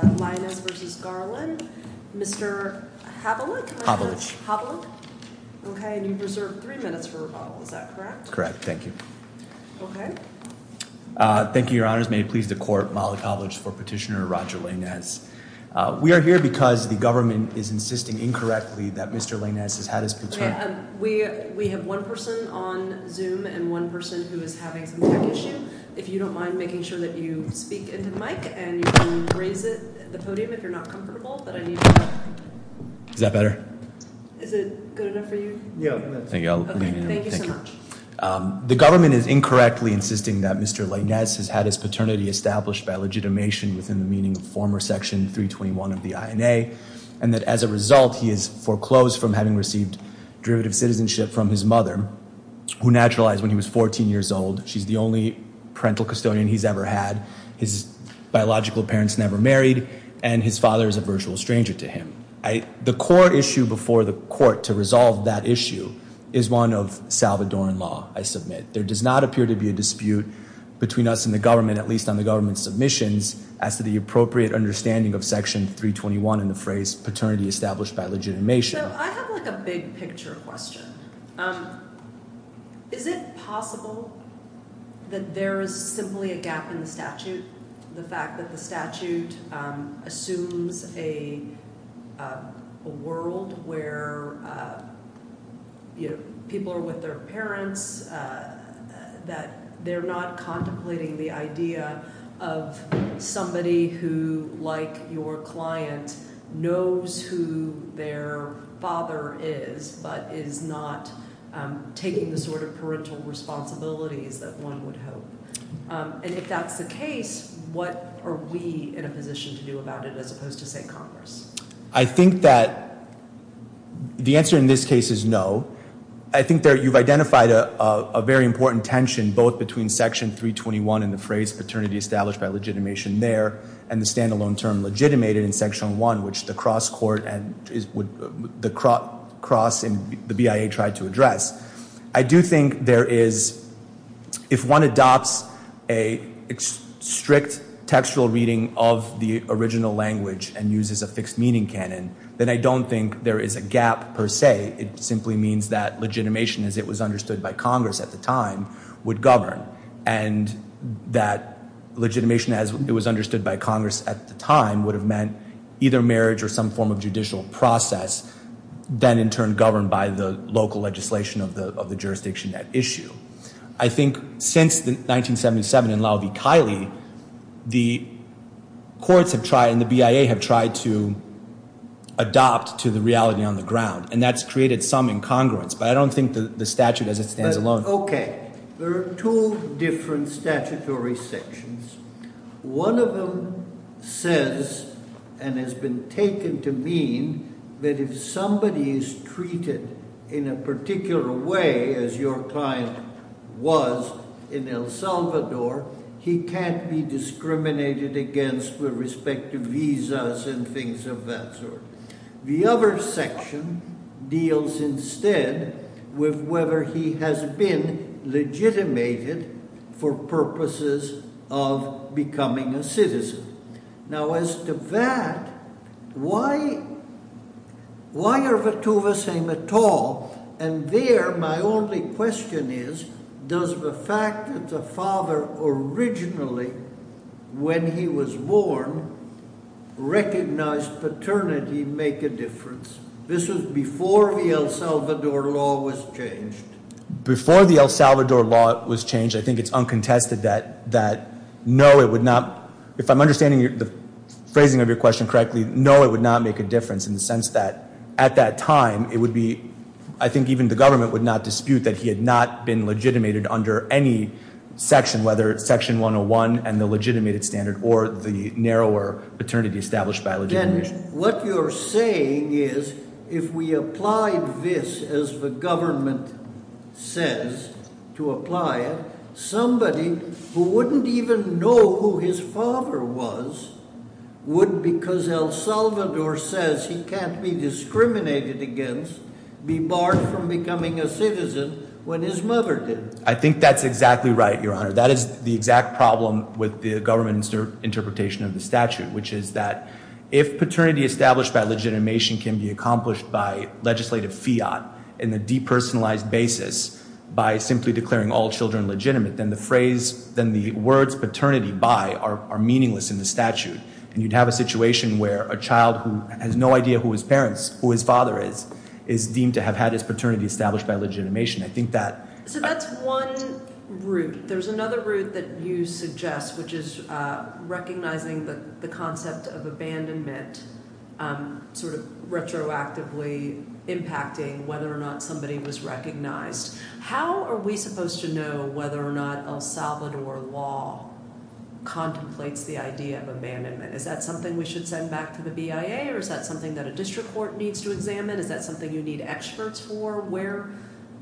Lainez Maradiaga v. Garland Mr. Havlick Havlick Okay, and you've reserved three minutes for rebuttal, is that correct? Correct, thank you. Thank you, your honors. May it please the court, Malik Havlick for petitioner Roger Lainez. We are here because the government is insisting incorrectly that Mr. Lainez has had his boots on. We have one person on Zoom and one person who is having some tech issue. If you don't mind making sure that you speak into the mic and you can raise it at the podium if you're not comfortable. Is that better? Is it good enough for you? Thank you so much. The government is incorrectly insisting that Mr. Lainez has had his paternity established by legitimation within the meaning of former section 321 of the INA and that as a result he is foreclosed from having received derivative citizenship from his mother who naturalized when he was 14 years old. She's the only parental custodian he's ever had. His biological parents never married and his father is a virtual stranger to him. The core issue before the court to resolve that issue is one of Salvadoran law, I submit. There does not appear to be a dispute between us and the government, at least on the government's submissions, as to the appropriate understanding of section 321 in the phrase paternity established by legitimation. So I have like a big picture question. Is it possible that there is simply a gap in the statute? The fact that the statute assumes a world where people are with their parents, that they're not contemplating the idea of somebody who, like your client, knows who their father is, but is not taking the sort of parental responsibilities that one would hope. And if that's the case, what are we in a position to do about it as opposed to, say, Congress? I think that the answer in this case is no. I think that you've identified a very important tension, both between section 321 in the phrase paternity established by legitimation there and the standalone term legitimated in section 1, which the cross in the BIA tried to address. I do think there is, if one adopts a strict textual reading of the original language and uses a fixed meaning canon, then I don't think there is a gap per se. It simply means that legitimation, as it was understood by Congress at the time, would govern, and that legitimation, as it was understood by Congress at the time, would have meant either marriage or some form of judicial process, then in turn governed by the local legislation of the jurisdiction at issue. I think since 1977 in Lauvie-Kiley, the courts have tried and the BIA have tried to adopt to the reality on the ground, and that's created some incongruence, but I don't think the statute as it stands alone. Okay. There are two different statutory sections. One of them says and has been taken to mean that if somebody is treated in a particular way as your client was in El Salvador, he can't be discriminated against with respect to visas and things of that sort. The other section deals instead with whether he has been legitimated for purposes of becoming a citizen. Now, as to that, why are the two the same at all? And there my only question is, does the fact that the father originally, when he was born, recognized paternity make a difference? This was before the El Salvador law was changed. Before the El Salvador law was changed, I think it's uncontested that no, it would not. If I'm understanding the phrasing of your question correctly, no, it would not make a difference in the sense that at that time, it would be, I think even the government would not dispute that he had not been legitimated under any section, whether it's section 101 and the legitimated standard or the narrower paternity established by legitimation. And what you're saying is, if we applied this as the government says to apply it, somebody who wouldn't even know who his father was would, because El Salvador says he can't be discriminated against, be barred from becoming a citizen when his mother did. I think that's exactly right, Your Honor. That is the exact problem with the government interpretation of the statute, which is that if paternity established by legitimation can be accomplished by legislative fiat in a depersonalized basis by simply declaring all children legitimate, then the phrase, then the words paternity by are meaningless in the statute. And you'd have a situation where a child who has no idea who his parents, who his father is, is deemed to have had his paternity established by legitimation. I think that- So that's one route. There's another route that you suggest, which is recognizing the concept of abandonment, sort of retroactively impacting whether or not somebody was recognized. How are we supposed to know whether or not El Salvador law contemplates the idea of abandonment? Is that something we should send back to the BIA, or is that something that a district court needs to examine? Is that something you need experts for?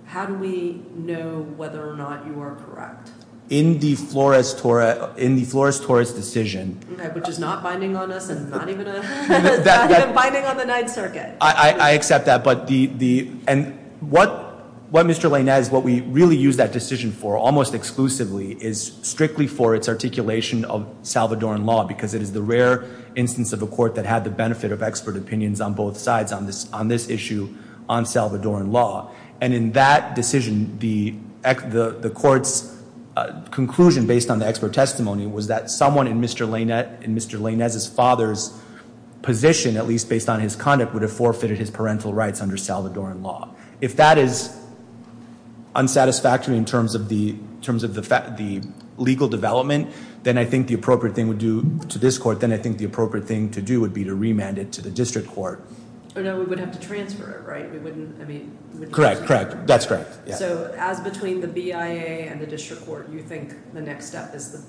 How do we know whether or not you are correct? In the Flores-Torres decision- Okay, which is not binding on us and not even binding on the Ninth Circuit. I accept that. And what Mr. Lane has, what we really use that decision for, almost exclusively, is strictly for its articulation of Salvadoran law, because it is the rare instance of a court that had the benefit of expert opinions on both sides on this issue on Salvadoran law. And in that decision, the court's conclusion, based on the expert testimony, was that someone in Mr. Lanez's father's position, at least based on his conduct, would have forfeited his parental rights under Salvadoran law. If that is unsatisfactory in terms of the legal development, then I think the appropriate thing to do to this court, then I think the appropriate thing to do would be to remand it to the district court. Oh no, we would have to transfer it, right? Correct, correct. That's correct. So as between the BIA and the district court, you think the next step is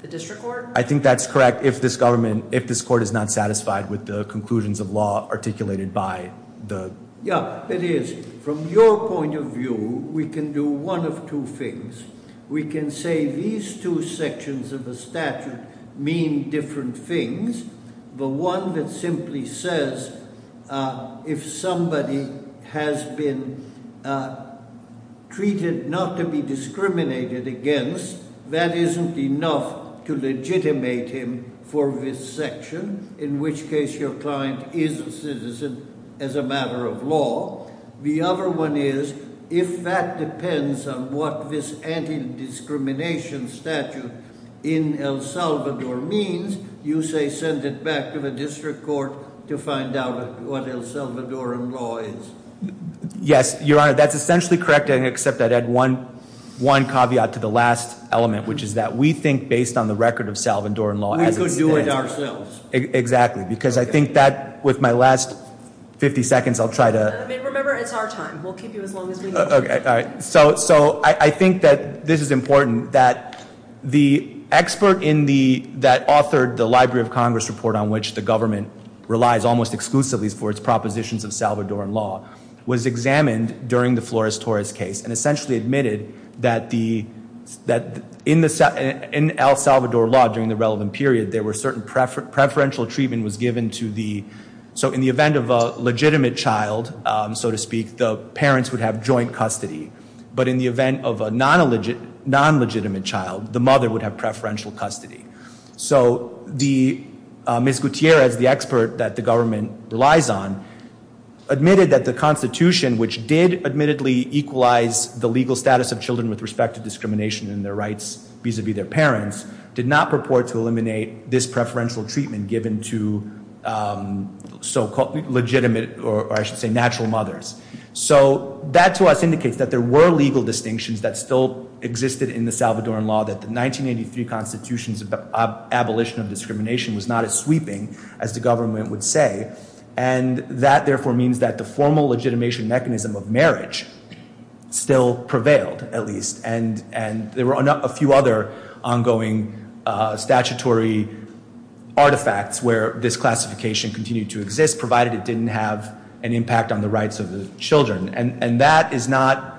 the district court? I think that's correct, if this court is not satisfied with the conclusions of law articulated by the- Yeah, it is. From your point of view, we can do one of two things. We can say these two sections of the statute mean different things. The one that simply says if somebody has been treated not to be discriminated against, that isn't enough to legitimate him for this section, in which case your client is a citizen as a matter of law. The other one is if that depends on what this anti-discrimination statute in El Salvador means, you say send it back to the district court to find out what El Salvadoran law is. Yes, Your Honor, that's essentially correct, except I'd add one caveat to the last element, which is that we think based on the record of Salvadoran law- We could do it ourselves. Exactly, because I think that, with my last 50 seconds, I'll try to- Remember, it's our time. We'll keep you as long as we need to. So I think that this is important, that the expert that authored the Library of Congress report on which the government relies almost exclusively for its propositions of Salvadoran law was examined during the Flores-Torres case and essentially admitted that in El Salvador law, during the relevant period, there were certain preferential treatment was given to the- so to speak, the parents would have joint custody. But in the event of a non-legitimate child, the mother would have preferential custody. So Ms. Gutierrez, the expert that the government relies on, admitted that the Constitution, which did admittedly equalize the legal status of children with respect to discrimination in their rights vis-a-vis their parents, did not purport to eliminate this preferential treatment given to so-called legitimate or, I should say, natural mothers. So that, to us, indicates that there were legal distinctions that still existed in the Salvadoran law, that the 1983 Constitution's abolition of discrimination was not as sweeping as the government would say. And that, therefore, means that the formal legitimation mechanism of marriage still prevailed, at least. And there were a few other ongoing statutory artifacts where this classification continued to exist, provided it didn't have an impact on the rights of the children. And that is not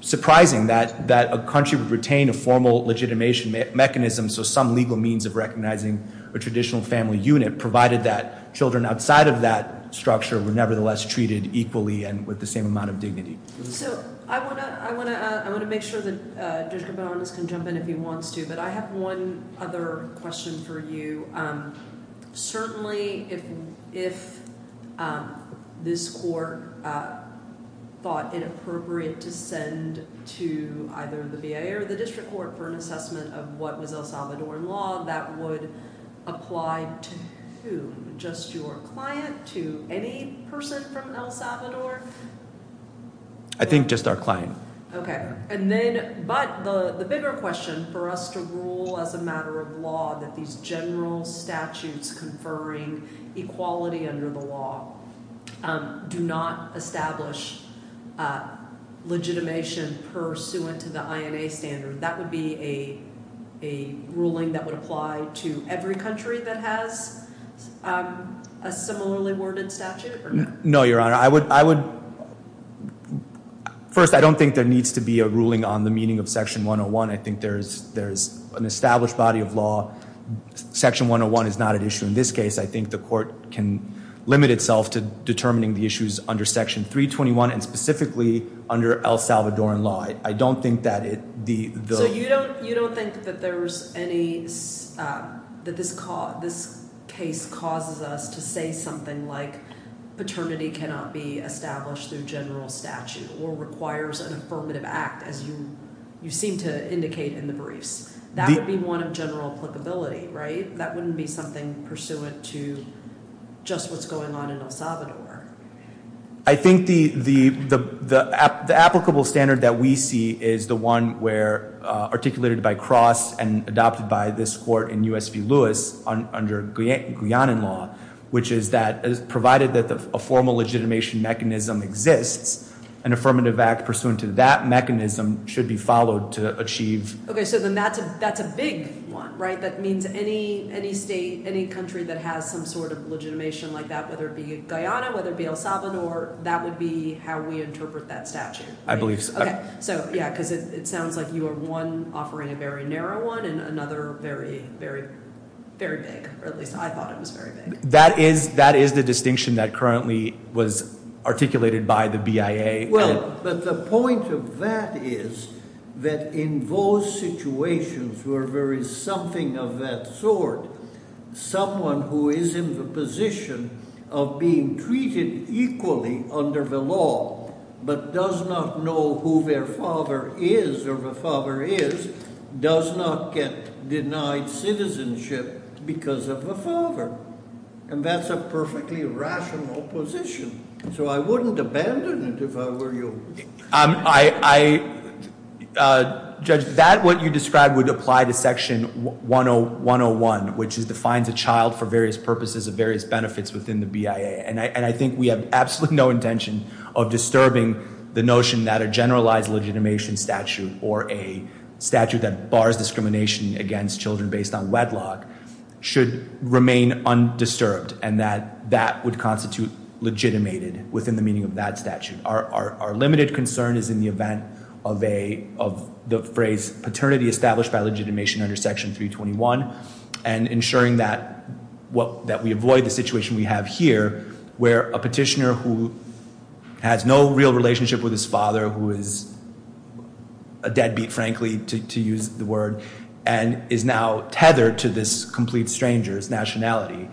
surprising, that a country would retain a formal legitimation mechanism, so some legal means of recognizing a traditional family unit, provided that children outside of that structure were nevertheless treated equally and with the same amount of dignity. So I want to make sure that Judge Gabonis can jump in if he wants to, but I have one other question for you. Certainly, if this court thought it appropriate to send to either the VA or the District Court for an assessment of what was El Salvadoran law, that would apply to whom? Just your client? To any person from El Salvador? I think just our client. But the bigger question, for us to rule as a matter of law that these general statutes conferring equality under the law do not establish legitimation pursuant to the INA standard, that would be a ruling that would apply to every country that has a similarly worded statute? No, Your Honor. First, I don't think there needs to be a ruling on the meaning of Section 101. I think there is an established body of law. Section 101 is not at issue in this case. I think the court can limit itself to determining the issues under Section 321 and specifically under El Salvadoran law. So you don't think that this case causes us to say something like paternity cannot be established through general statute or requires an affirmative act as you seem to indicate in the briefs? That would be one of general applicability, right? That wouldn't be something pursuant to just what's going on in El Salvador. I think the applicable standard that we see is the one articulated by Cross and adopted by this court in US v. Lewis under Guyana law, which is that provided that a formal legitimation mechanism exists, an affirmative act pursuant to that mechanism should be followed to achieve... Okay, so then that's a big one, right? That means any state, any country that has some sort of legitimation like that, whether it be Guyana, whether it be El Salvador, that would be how we interpret that statute. I believe so. Okay, so yeah, because it sounds like you are, one, offering a very narrow one, and another very, very, very big, or at least I thought it was very big. That is the distinction that currently was articulated by the BIA. Well, but the point of that is that in those situations where there is something of that sort, someone who is in the position of being treated equally under the law but does not know who their father is or the father is, does not get denied citizenship because of the father. And that's a perfectly rational position. So I wouldn't abandon it if I were you. Judge, that what you described would apply to Section 101, which defines a child for various purposes of various benefits within the BIA. And I think we have absolutely no intention of disturbing the notion that a generalized legitimation statute or a statute that bars discrimination against children based on wedlock should remain undisturbed and that that would constitute legitimated within the meaning of that statute. Our limited concern is in the event of the phrase paternity established by legitimation under Section 321 and ensuring that we avoid the situation we have here where a petitioner who has no real relationship with his father, who is a deadbeat, frankly, to use the word, and is now tethered to this complete stranger's nationality,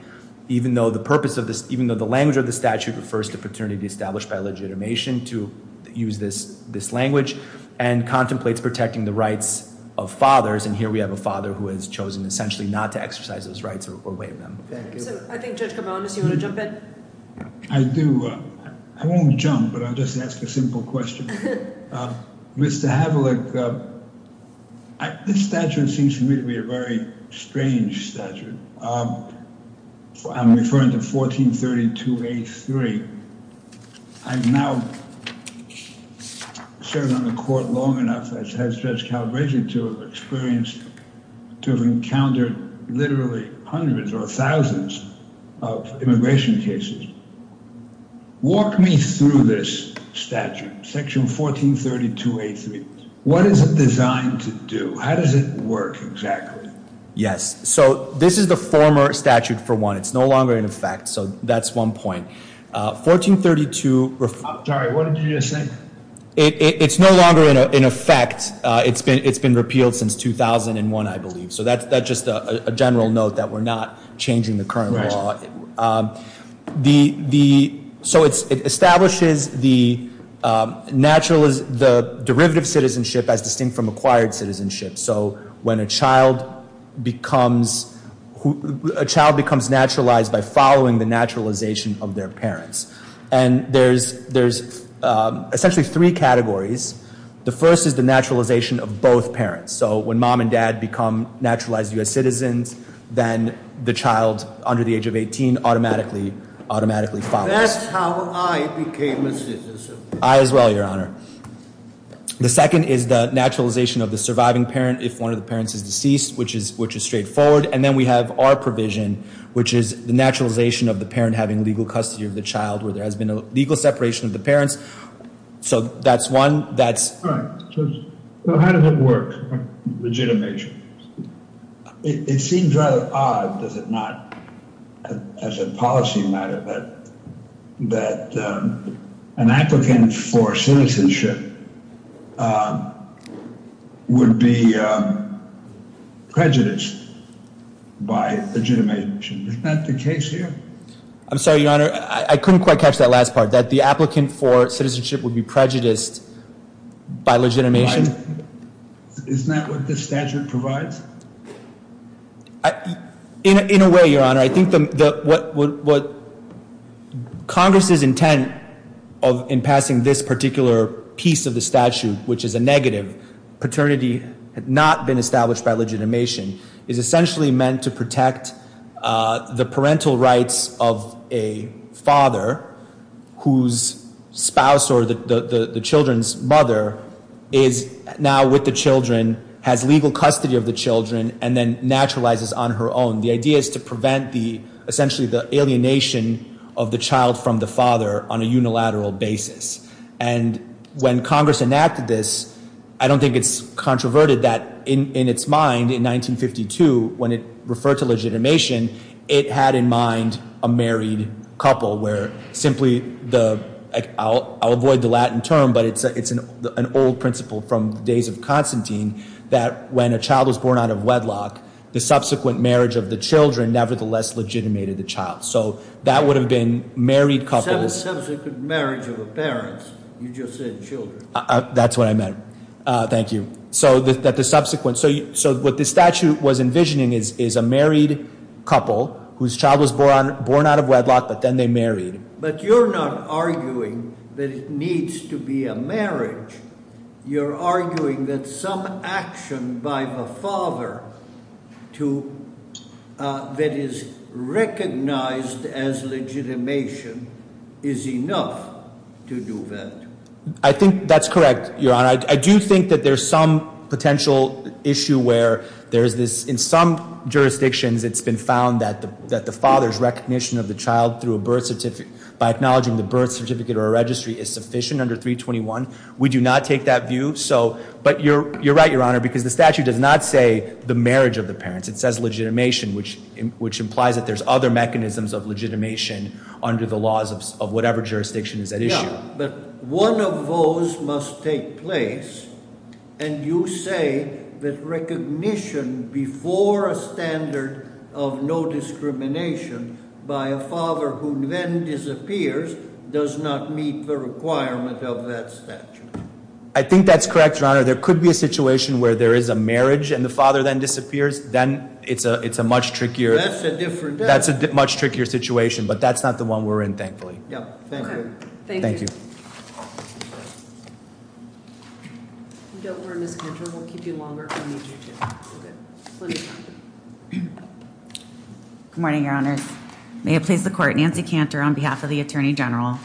even though the language of the statute refers to paternity established by legitimation to use this language, and contemplates protecting the rights of fathers. And here we have a father who has chosen essentially not to exercise those rights or waive them. Thank you. So I think, Judge Gabonis, you want to jump in? I do. I won't jump, but I'll just ask a simple question. Mr. Havlick, this statute seems to me to be a very strange statute. I'm referring to 1432A3. I've now served on the court long enough as Judge Calabresi to have experienced, to have encountered literally hundreds or thousands of immigration cases. Walk me through this statute, Section 1432A3. What is it designed to do? How does it work exactly? Yes. So this is the former statute, for one. It's no longer in effect, so that's one point. 1432- I'm sorry, what did you just say? It's no longer in effect. It's been repealed since 2001, I believe. So that's just a general note that we're not changing the current law. So it establishes the derivative citizenship as distinct from acquired citizenship. So when a child becomes naturalized by following the naturalization of their parents. And there's essentially three categories. The first is the naturalization of both parents. So when mom and dad become naturalized U.S. citizens, then the child under the age of 18 automatically follows. That's how I became a citizen. I as well, Your Honor. The second is the naturalization of the surviving parent if one of the parents is deceased, which is straightforward. And then we have our provision, which is the naturalization of the parent having legal custody of the child where there has been a legal separation of the parents. So that's one. All right. So how does it work? Legitimation. It seems rather odd, does it not, as a policy matter, that an applicant for citizenship would be prejudiced by legitimation. Is that the case here? I'm sorry, Your Honor. I couldn't quite catch that last part, that the applicant for citizenship would be prejudiced by legitimation. Isn't that what this statute provides? In a way, Your Honor, I think what Congress's intent in passing this particular piece of the statute, which is a negative paternity had not been established by legitimation, is essentially meant to protect the parental rights of a father whose spouse or the children's mother is now with the children, has legal custody of the children, and then naturalizes on her own. The idea is to prevent essentially the alienation of the child from the father on a unilateral basis. And when Congress enacted this, I don't think it's controverted that in its mind in 1952, when it referred to legitimation, it had in mind a married couple where simply the – I'll avoid the Latin term, but it's an old principle from the days of Constantine, that when a child was born out of wedlock, the subsequent marriage of the children nevertheless legitimated the child. So that would have been married couples. The subsequent marriage of the parents, you just said children. That's what I meant. Thank you. So that the subsequent – so what the statute was envisioning is a married couple whose child was born out of wedlock, but then they married. But you're not arguing that it needs to be a marriage. You're arguing that some action by the father to – that is recognized as legitimation is enough to do that. I think that's correct, Your Honor. And I do think that there's some potential issue where there's this – in some jurisdictions, it's been found that the father's recognition of the child through a birth certificate – by acknowledging the birth certificate or a registry is sufficient under 321. We do not take that view. But you're right, Your Honor, because the statute does not say the marriage of the parents. It says legitimation, which implies that there's other mechanisms of legitimation under the laws of whatever jurisdiction is at issue. But one of those must take place, and you say that recognition before a standard of no discrimination by a father who then disappears does not meet the requirement of that statute. I think that's correct, Your Honor. There could be a situation where there is a marriage and the father then disappears. Then it's a much trickier – That's a different – That's a much trickier situation, but that's not the one we're in, thankfully. Yeah. Thank you. Thank you. Good morning, Your Honors. May it please the Court, Nancy Cantor on behalf of the Attorney General.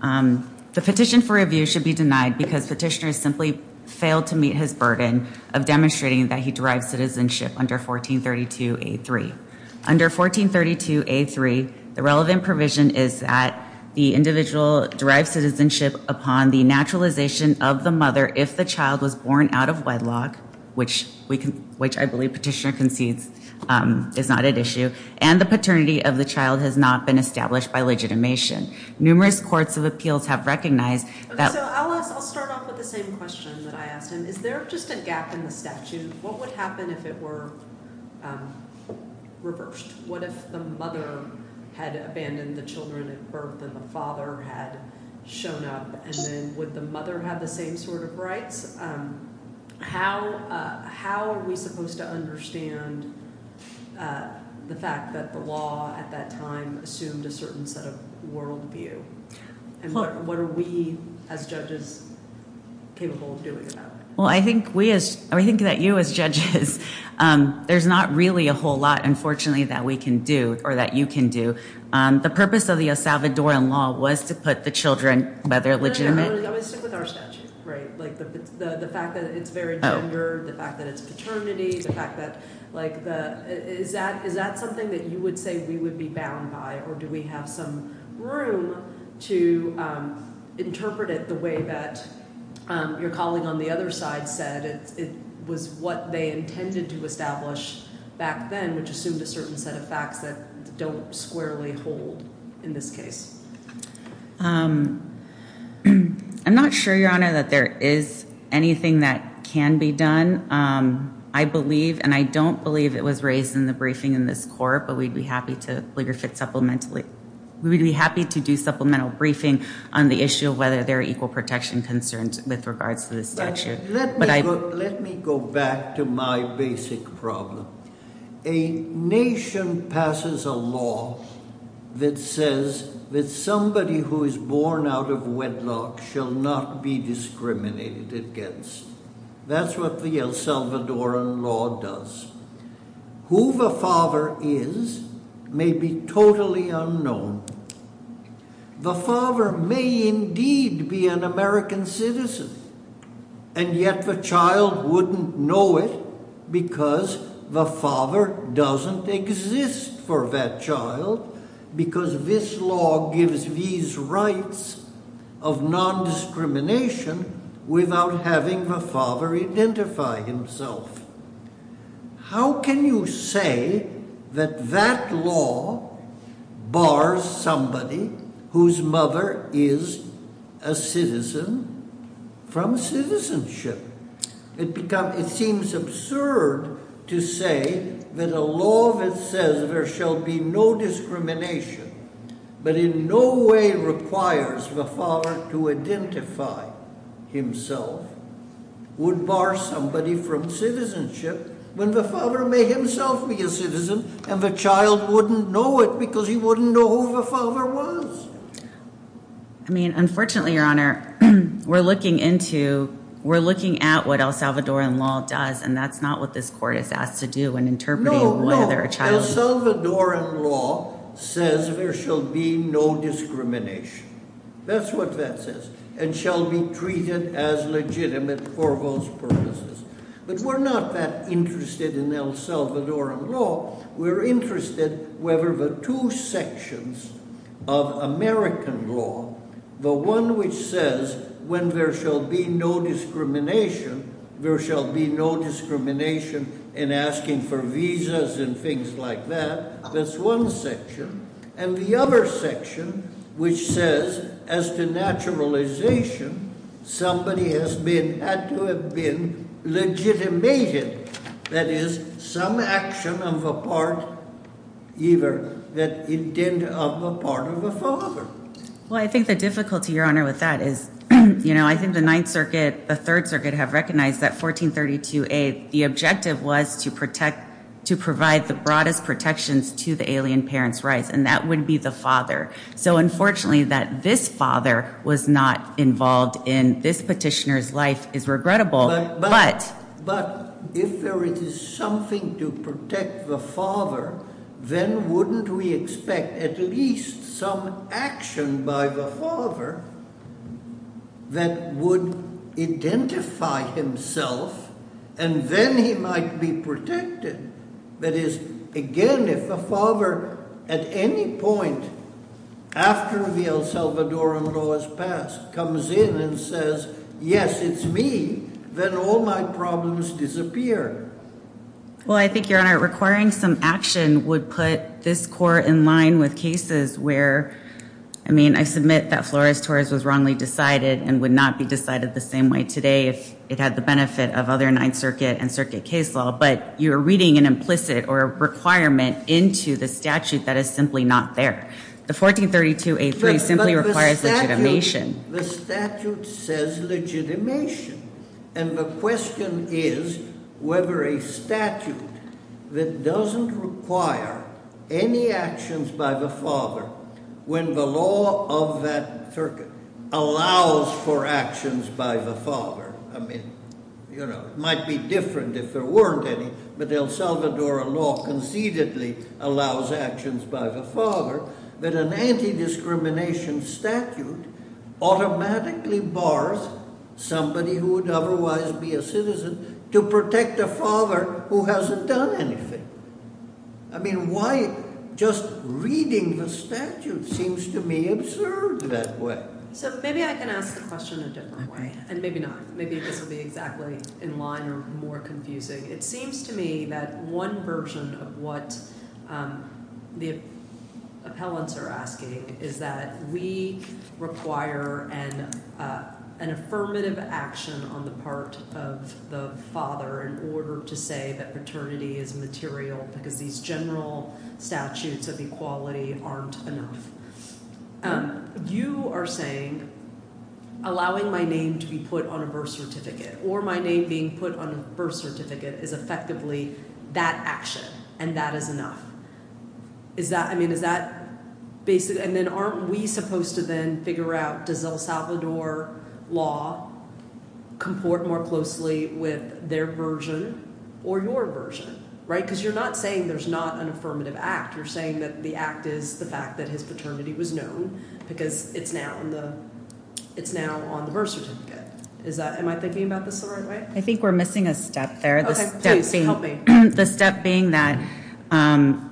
The petition for review should be denied because petitioner simply failed to meet his burden of demonstrating that he derives citizenship under 1432A3. Under 1432A3, the relevant provision is that the individual derives citizenship upon the naturalization of the mother if the child was born out of wedlock, which I believe petitioner concedes is not at issue, and the paternity of the child has not been established by legitimation. Numerous courts of appeals have recognized that – What if the mother had abandoned the children at birth and the father had shown up, and then would the mother have the same sort of rights? How are we supposed to understand the fact that the law at that time assumed a certain set of worldview? And what are we as judges capable of doing about it? Well, I think we as – I think that you as judges, there's not really a whole lot, unfortunately, that we can do or that you can do. The purpose of the El Salvadoran law was to put the children by their legitimate – No, no, no. I'm going to stick with our statute, right? Like the fact that it's very gendered, the fact that it's paternity, the fact that – like the – is that something that you would say we would be bound by? Or do we have some room to interpret it the way that your colleague on the other side said it was what they intended to establish back then, which assumed a certain set of facts that don't squarely hold in this case? I'm not sure, Your Honor, that there is anything that can be done. I believe and I don't believe it was raised in the briefing in this court, but we'd be happy to – we would be happy to do supplemental briefing on the issue of whether there are equal protection concerns with regards to the statute. Let me go back to my basic problem. A nation passes a law that says that somebody who is born out of wedlock shall not be discriminated against. That's what the El Salvadoran law does. Who the father is may be totally unknown. The father may indeed be an American citizen, and yet the child wouldn't know it because the father doesn't exist for that child because this law gives these rights of nondiscrimination without having the father identify himself. How can you say that that law bars somebody whose mother is a citizen from citizenship? It becomes – it seems absurd to say that a law that says there shall be no discrimination but in no way requires the father to identify himself would bar somebody from citizenship when the father may himself be a citizen and the child wouldn't know it because he wouldn't know who the father was. I mean, unfortunately, Your Honor, we're looking into – we're looking at what El Salvadoran law does, and that's not what this court is asked to do in interpreting whether a child – No, no. El Salvadoran law says there shall be no discrimination. That's what that says, and shall be treated as legitimate for those purposes. But we're not that interested in El Salvadoran law. We're interested whether the two sections of American law, the one which says when there shall be no discrimination, there shall be no discrimination in asking for visas and things like that. That's one section. And the other section, which says as to naturalization, somebody has been – had to have been legitimated. That is, some action of a part – either the intent of a part of a father. Well, I think the difficulty, Your Honor, with that is, you know, I think the Ninth Circuit, the Third Circuit have recognized that 1432A, the objective was to protect – to provide the broadest protections to the alien parent's rights, and that would be the father. So, unfortunately, that this father was not involved in this petitioner's life is regrettable, but – However, it is something to protect the father, then wouldn't we expect at least some action by the father that would identify himself, and then he might be protected? That is, again, if a father at any point after the El Salvadoran law is passed comes in and says, yes, it's me, then all my problems disappear. Well, I think, Your Honor, requiring some action would put this court in line with cases where – I mean, I submit that Flores-Torres was wrongly decided and would not be decided the same way today if it had the benefit of other Ninth Circuit and Circuit case law, but you're reading an implicit or a requirement into the statute that is simply not there. The 1432A-3 simply requires legitimation. The statute says legitimation, and the question is whether a statute that doesn't require any actions by the father when the law of that circuit allows for actions by the father – I mean, you know, it might be different if there weren't any, but El Salvadoran law concededly allows actions by the father – that an anti-discrimination statute automatically bars somebody who would otherwise be a citizen to protect a father who hasn't done anything. I mean, why – just reading the statute seems to me absurd that way. So maybe I can ask the question a different way, and maybe not. Maybe this will be exactly in line or more confusing. It seems to me that one version of what the appellants are asking is that we require an affirmative action on the part of the father in order to say that paternity is material because these general statutes of equality aren't enough. You are saying allowing my name to be put on a birth certificate or my name being put on a birth certificate is effectively that action and that is enough. Is that – I mean, is that – and then aren't we supposed to then figure out does El Salvador law comport more closely with their version or your version, right? Because you're not saying there's not an affirmative act. You're saying that the act is the fact that his paternity was known because it's now on the birth certificate. Is that – am I thinking about this the right way? I think we're missing a step there. Okay. Please, help me. The step being that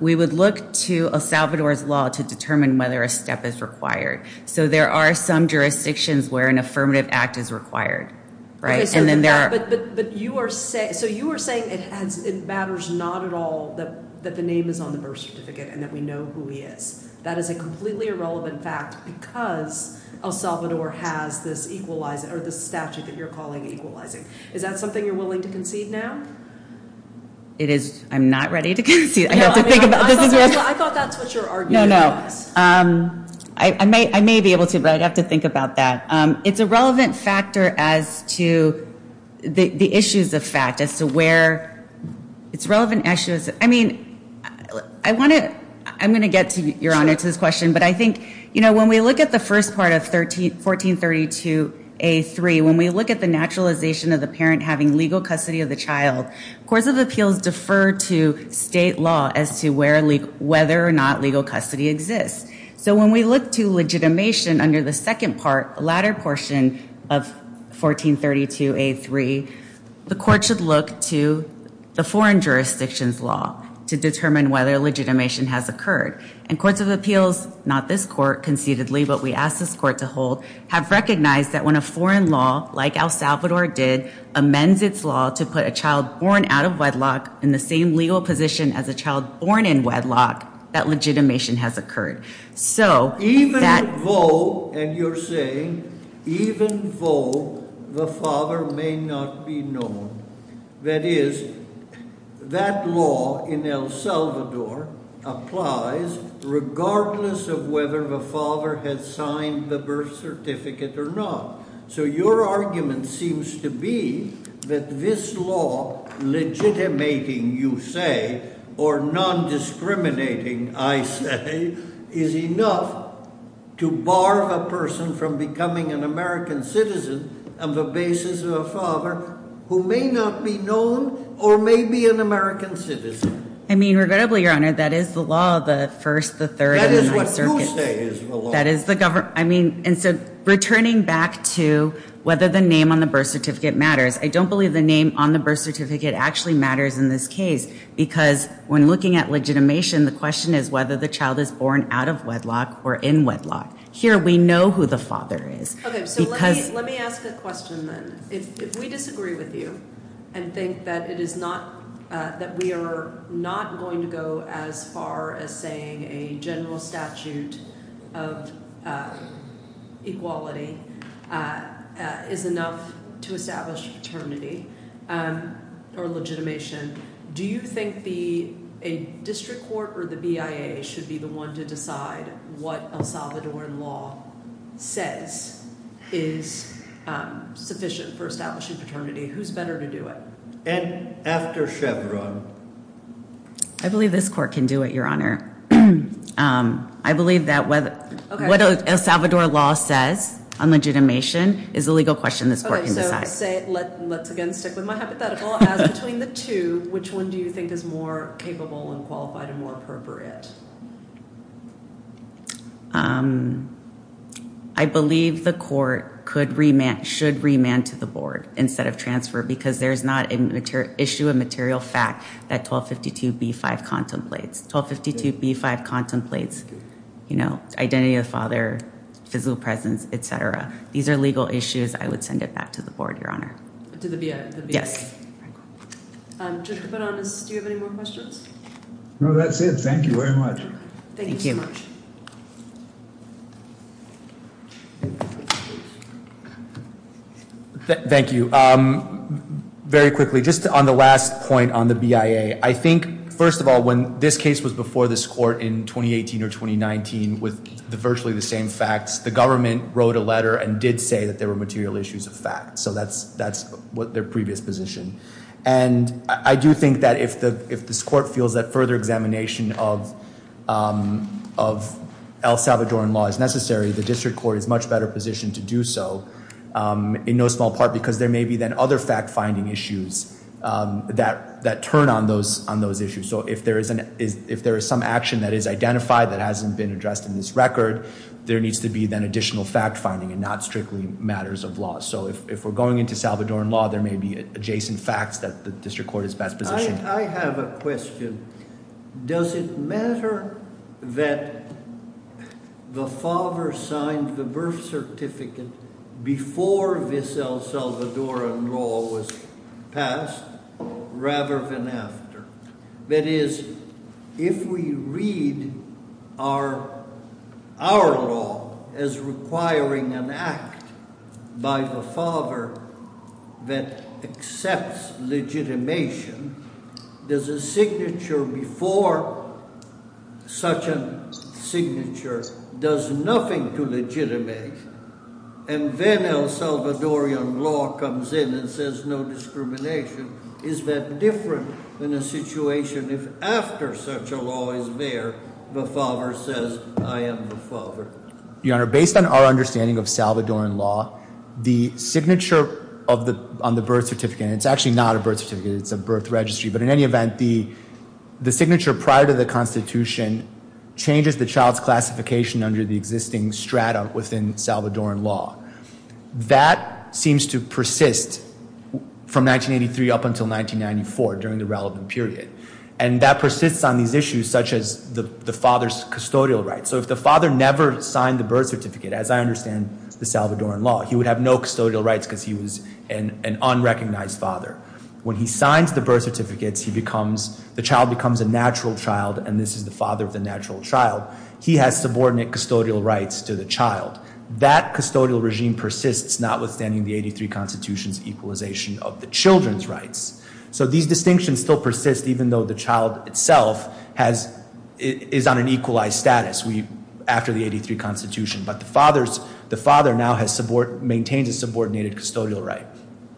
we would look to El Salvador's law to determine whether a step is required. So there are some jurisdictions where an affirmative act is required, right? But you are – so you are saying it matters not at all that the name is on the birth certificate and that we know who he is. That is a completely irrelevant fact because El Salvador has this equalizing – or this statute that you're calling equalizing. Is that something you're willing to concede now? It is – I'm not ready to concede. I have to think about this. I thought that's what you're arguing. No, no. I may be able to but I'd have to think about that. It's a relevant factor as to the issues of fact, as to where – it's relevant issues. I mean, I want to – I'm going to get, Your Honor, to this question. But I think, you know, when we look at the first part of 1432A.3, when we look at the naturalization of the parent having legal custody of the child, courts of appeals defer to state law as to whether or not legal custody exists. So when we look to legitimation under the second part, latter portion of 1432A.3, the court should look to the foreign jurisdictions law to determine whether legitimation has occurred. And courts of appeals – not this court conceitedly, but we ask this court to hold – have recognized that when a foreign law, like El Salvador did, amends its law to put a child born out of wedlock in the same legal position as a child born in wedlock, that legitimation has occurred. So that – Even though – and you're saying even though the father may not be known. That is, that law in El Salvador applies regardless of whether the father has signed the birth certificate or not. So your argument seems to be that this law legitimating, you say, or non-discriminating, I say, is enough to bar a person from becoming an American citizen on the basis of a father who may not be known or may be an American citizen. I mean, regrettably, Your Honor, that is the law of the First, the Third, and the Ninth Circuit. That is what you say is the law. That is the – I mean, and so returning back to whether the name on the birth certificate matters, I don't believe the name on the birth certificate actually matters in this case, because when looking at legitimation, the question is whether the child is born out of wedlock or in wedlock. Here we know who the father is. Okay, so let me ask a question then. If we disagree with you and think that it is not – that we are not going to go as far as saying a general statute of equality is enough to establish paternity or legitimation, do you think a district court or the BIA should be the one to decide what El Salvadoran law says is sufficient for establishing paternity? Who's better to do it? And after Chevron. I believe this court can do it, Your Honor. I believe that what El Salvador law says on legitimation is a legal question this court can decide. Let's again stick with my hypothetical. As between the two, which one do you think is more capable and qualified and more appropriate? I believe the court could remand – should remand to the board instead of transfer, because there is not an issue of material fact that 1252B5 contemplates. 1252B5 contemplates, you know, identity of the father, physical presence, et cetera. These are legal issues. I would send it back to the board, Your Honor. To the BIA? Yes. Judge Capodonis, do you have any more questions? No, that's it. Thank you very much. Thank you. Thank you. Very quickly, just on the last point on the BIA. I think, first of all, when this case was before this court in 2018 or 2019 with virtually the same facts, the government wrote a letter and did say that there were material issues of fact. So that's their previous position. And I do think that if this court feels that further examination of El Salvadoran law is necessary, the district court is much better positioned to do so in no small part because there may be then other fact-finding issues that turn on those issues. So if there is some action that is identified that hasn't been addressed in this record, there needs to be then additional fact-finding and not strictly matters of law. So if we're going into Salvadoran law, there may be adjacent facts that the district court is best positioned. I have a question. Does it matter that the father signed the birth certificate before this El Salvadoran law was passed rather than after? That is, if we read our law as requiring an act by the father that accepts legitimation, does a signature before such a signature does nothing to legitimate? And then El Salvadoran law comes in and says no discrimination. Is that different in a situation if after such a law is there, the father says, I am the father? Your Honor, based on our understanding of Salvadoran law, the signature on the birth certificate, and it's actually not a birth certificate, it's a birth registry, but in any event, the signature prior to the Constitution changes the child's classification under the existing strata within Salvadoran law. That seems to persist from 1983 up until 1994 during the relevant period. And that persists on these issues such as the father's custodial rights. So if the father never signed the birth certificate, as I understand the Salvadoran law, he would have no custodial rights because he was an unrecognized father. When he signs the birth certificates, the child becomes a natural child, and this is the father of the natural child. He has subordinate custodial rights to the child. That custodial regime persists notwithstanding the 83 Constitution's equalization of the children's rights. So these distinctions still persist even though the child itself is on an equalized status after the 83 Constitution. But the father now maintains a subordinated custodial right.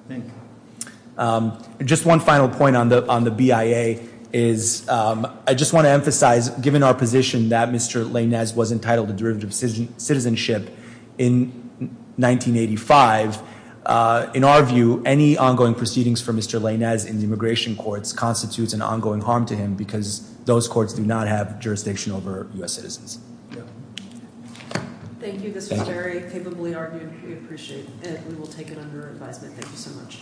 Thank you. Just one final point on the BIA is I just want to emphasize, given our position that Mr. Léñez was entitled to derivative citizenship in 1985, in our view, any ongoing proceedings for Mr. Léñez in the immigration courts constitutes an ongoing harm to him because those courts do not have jurisdiction over U.S. citizens. Thank you. I think this was very capably argued. We appreciate it, and we will take it under advisement. Thank you so much.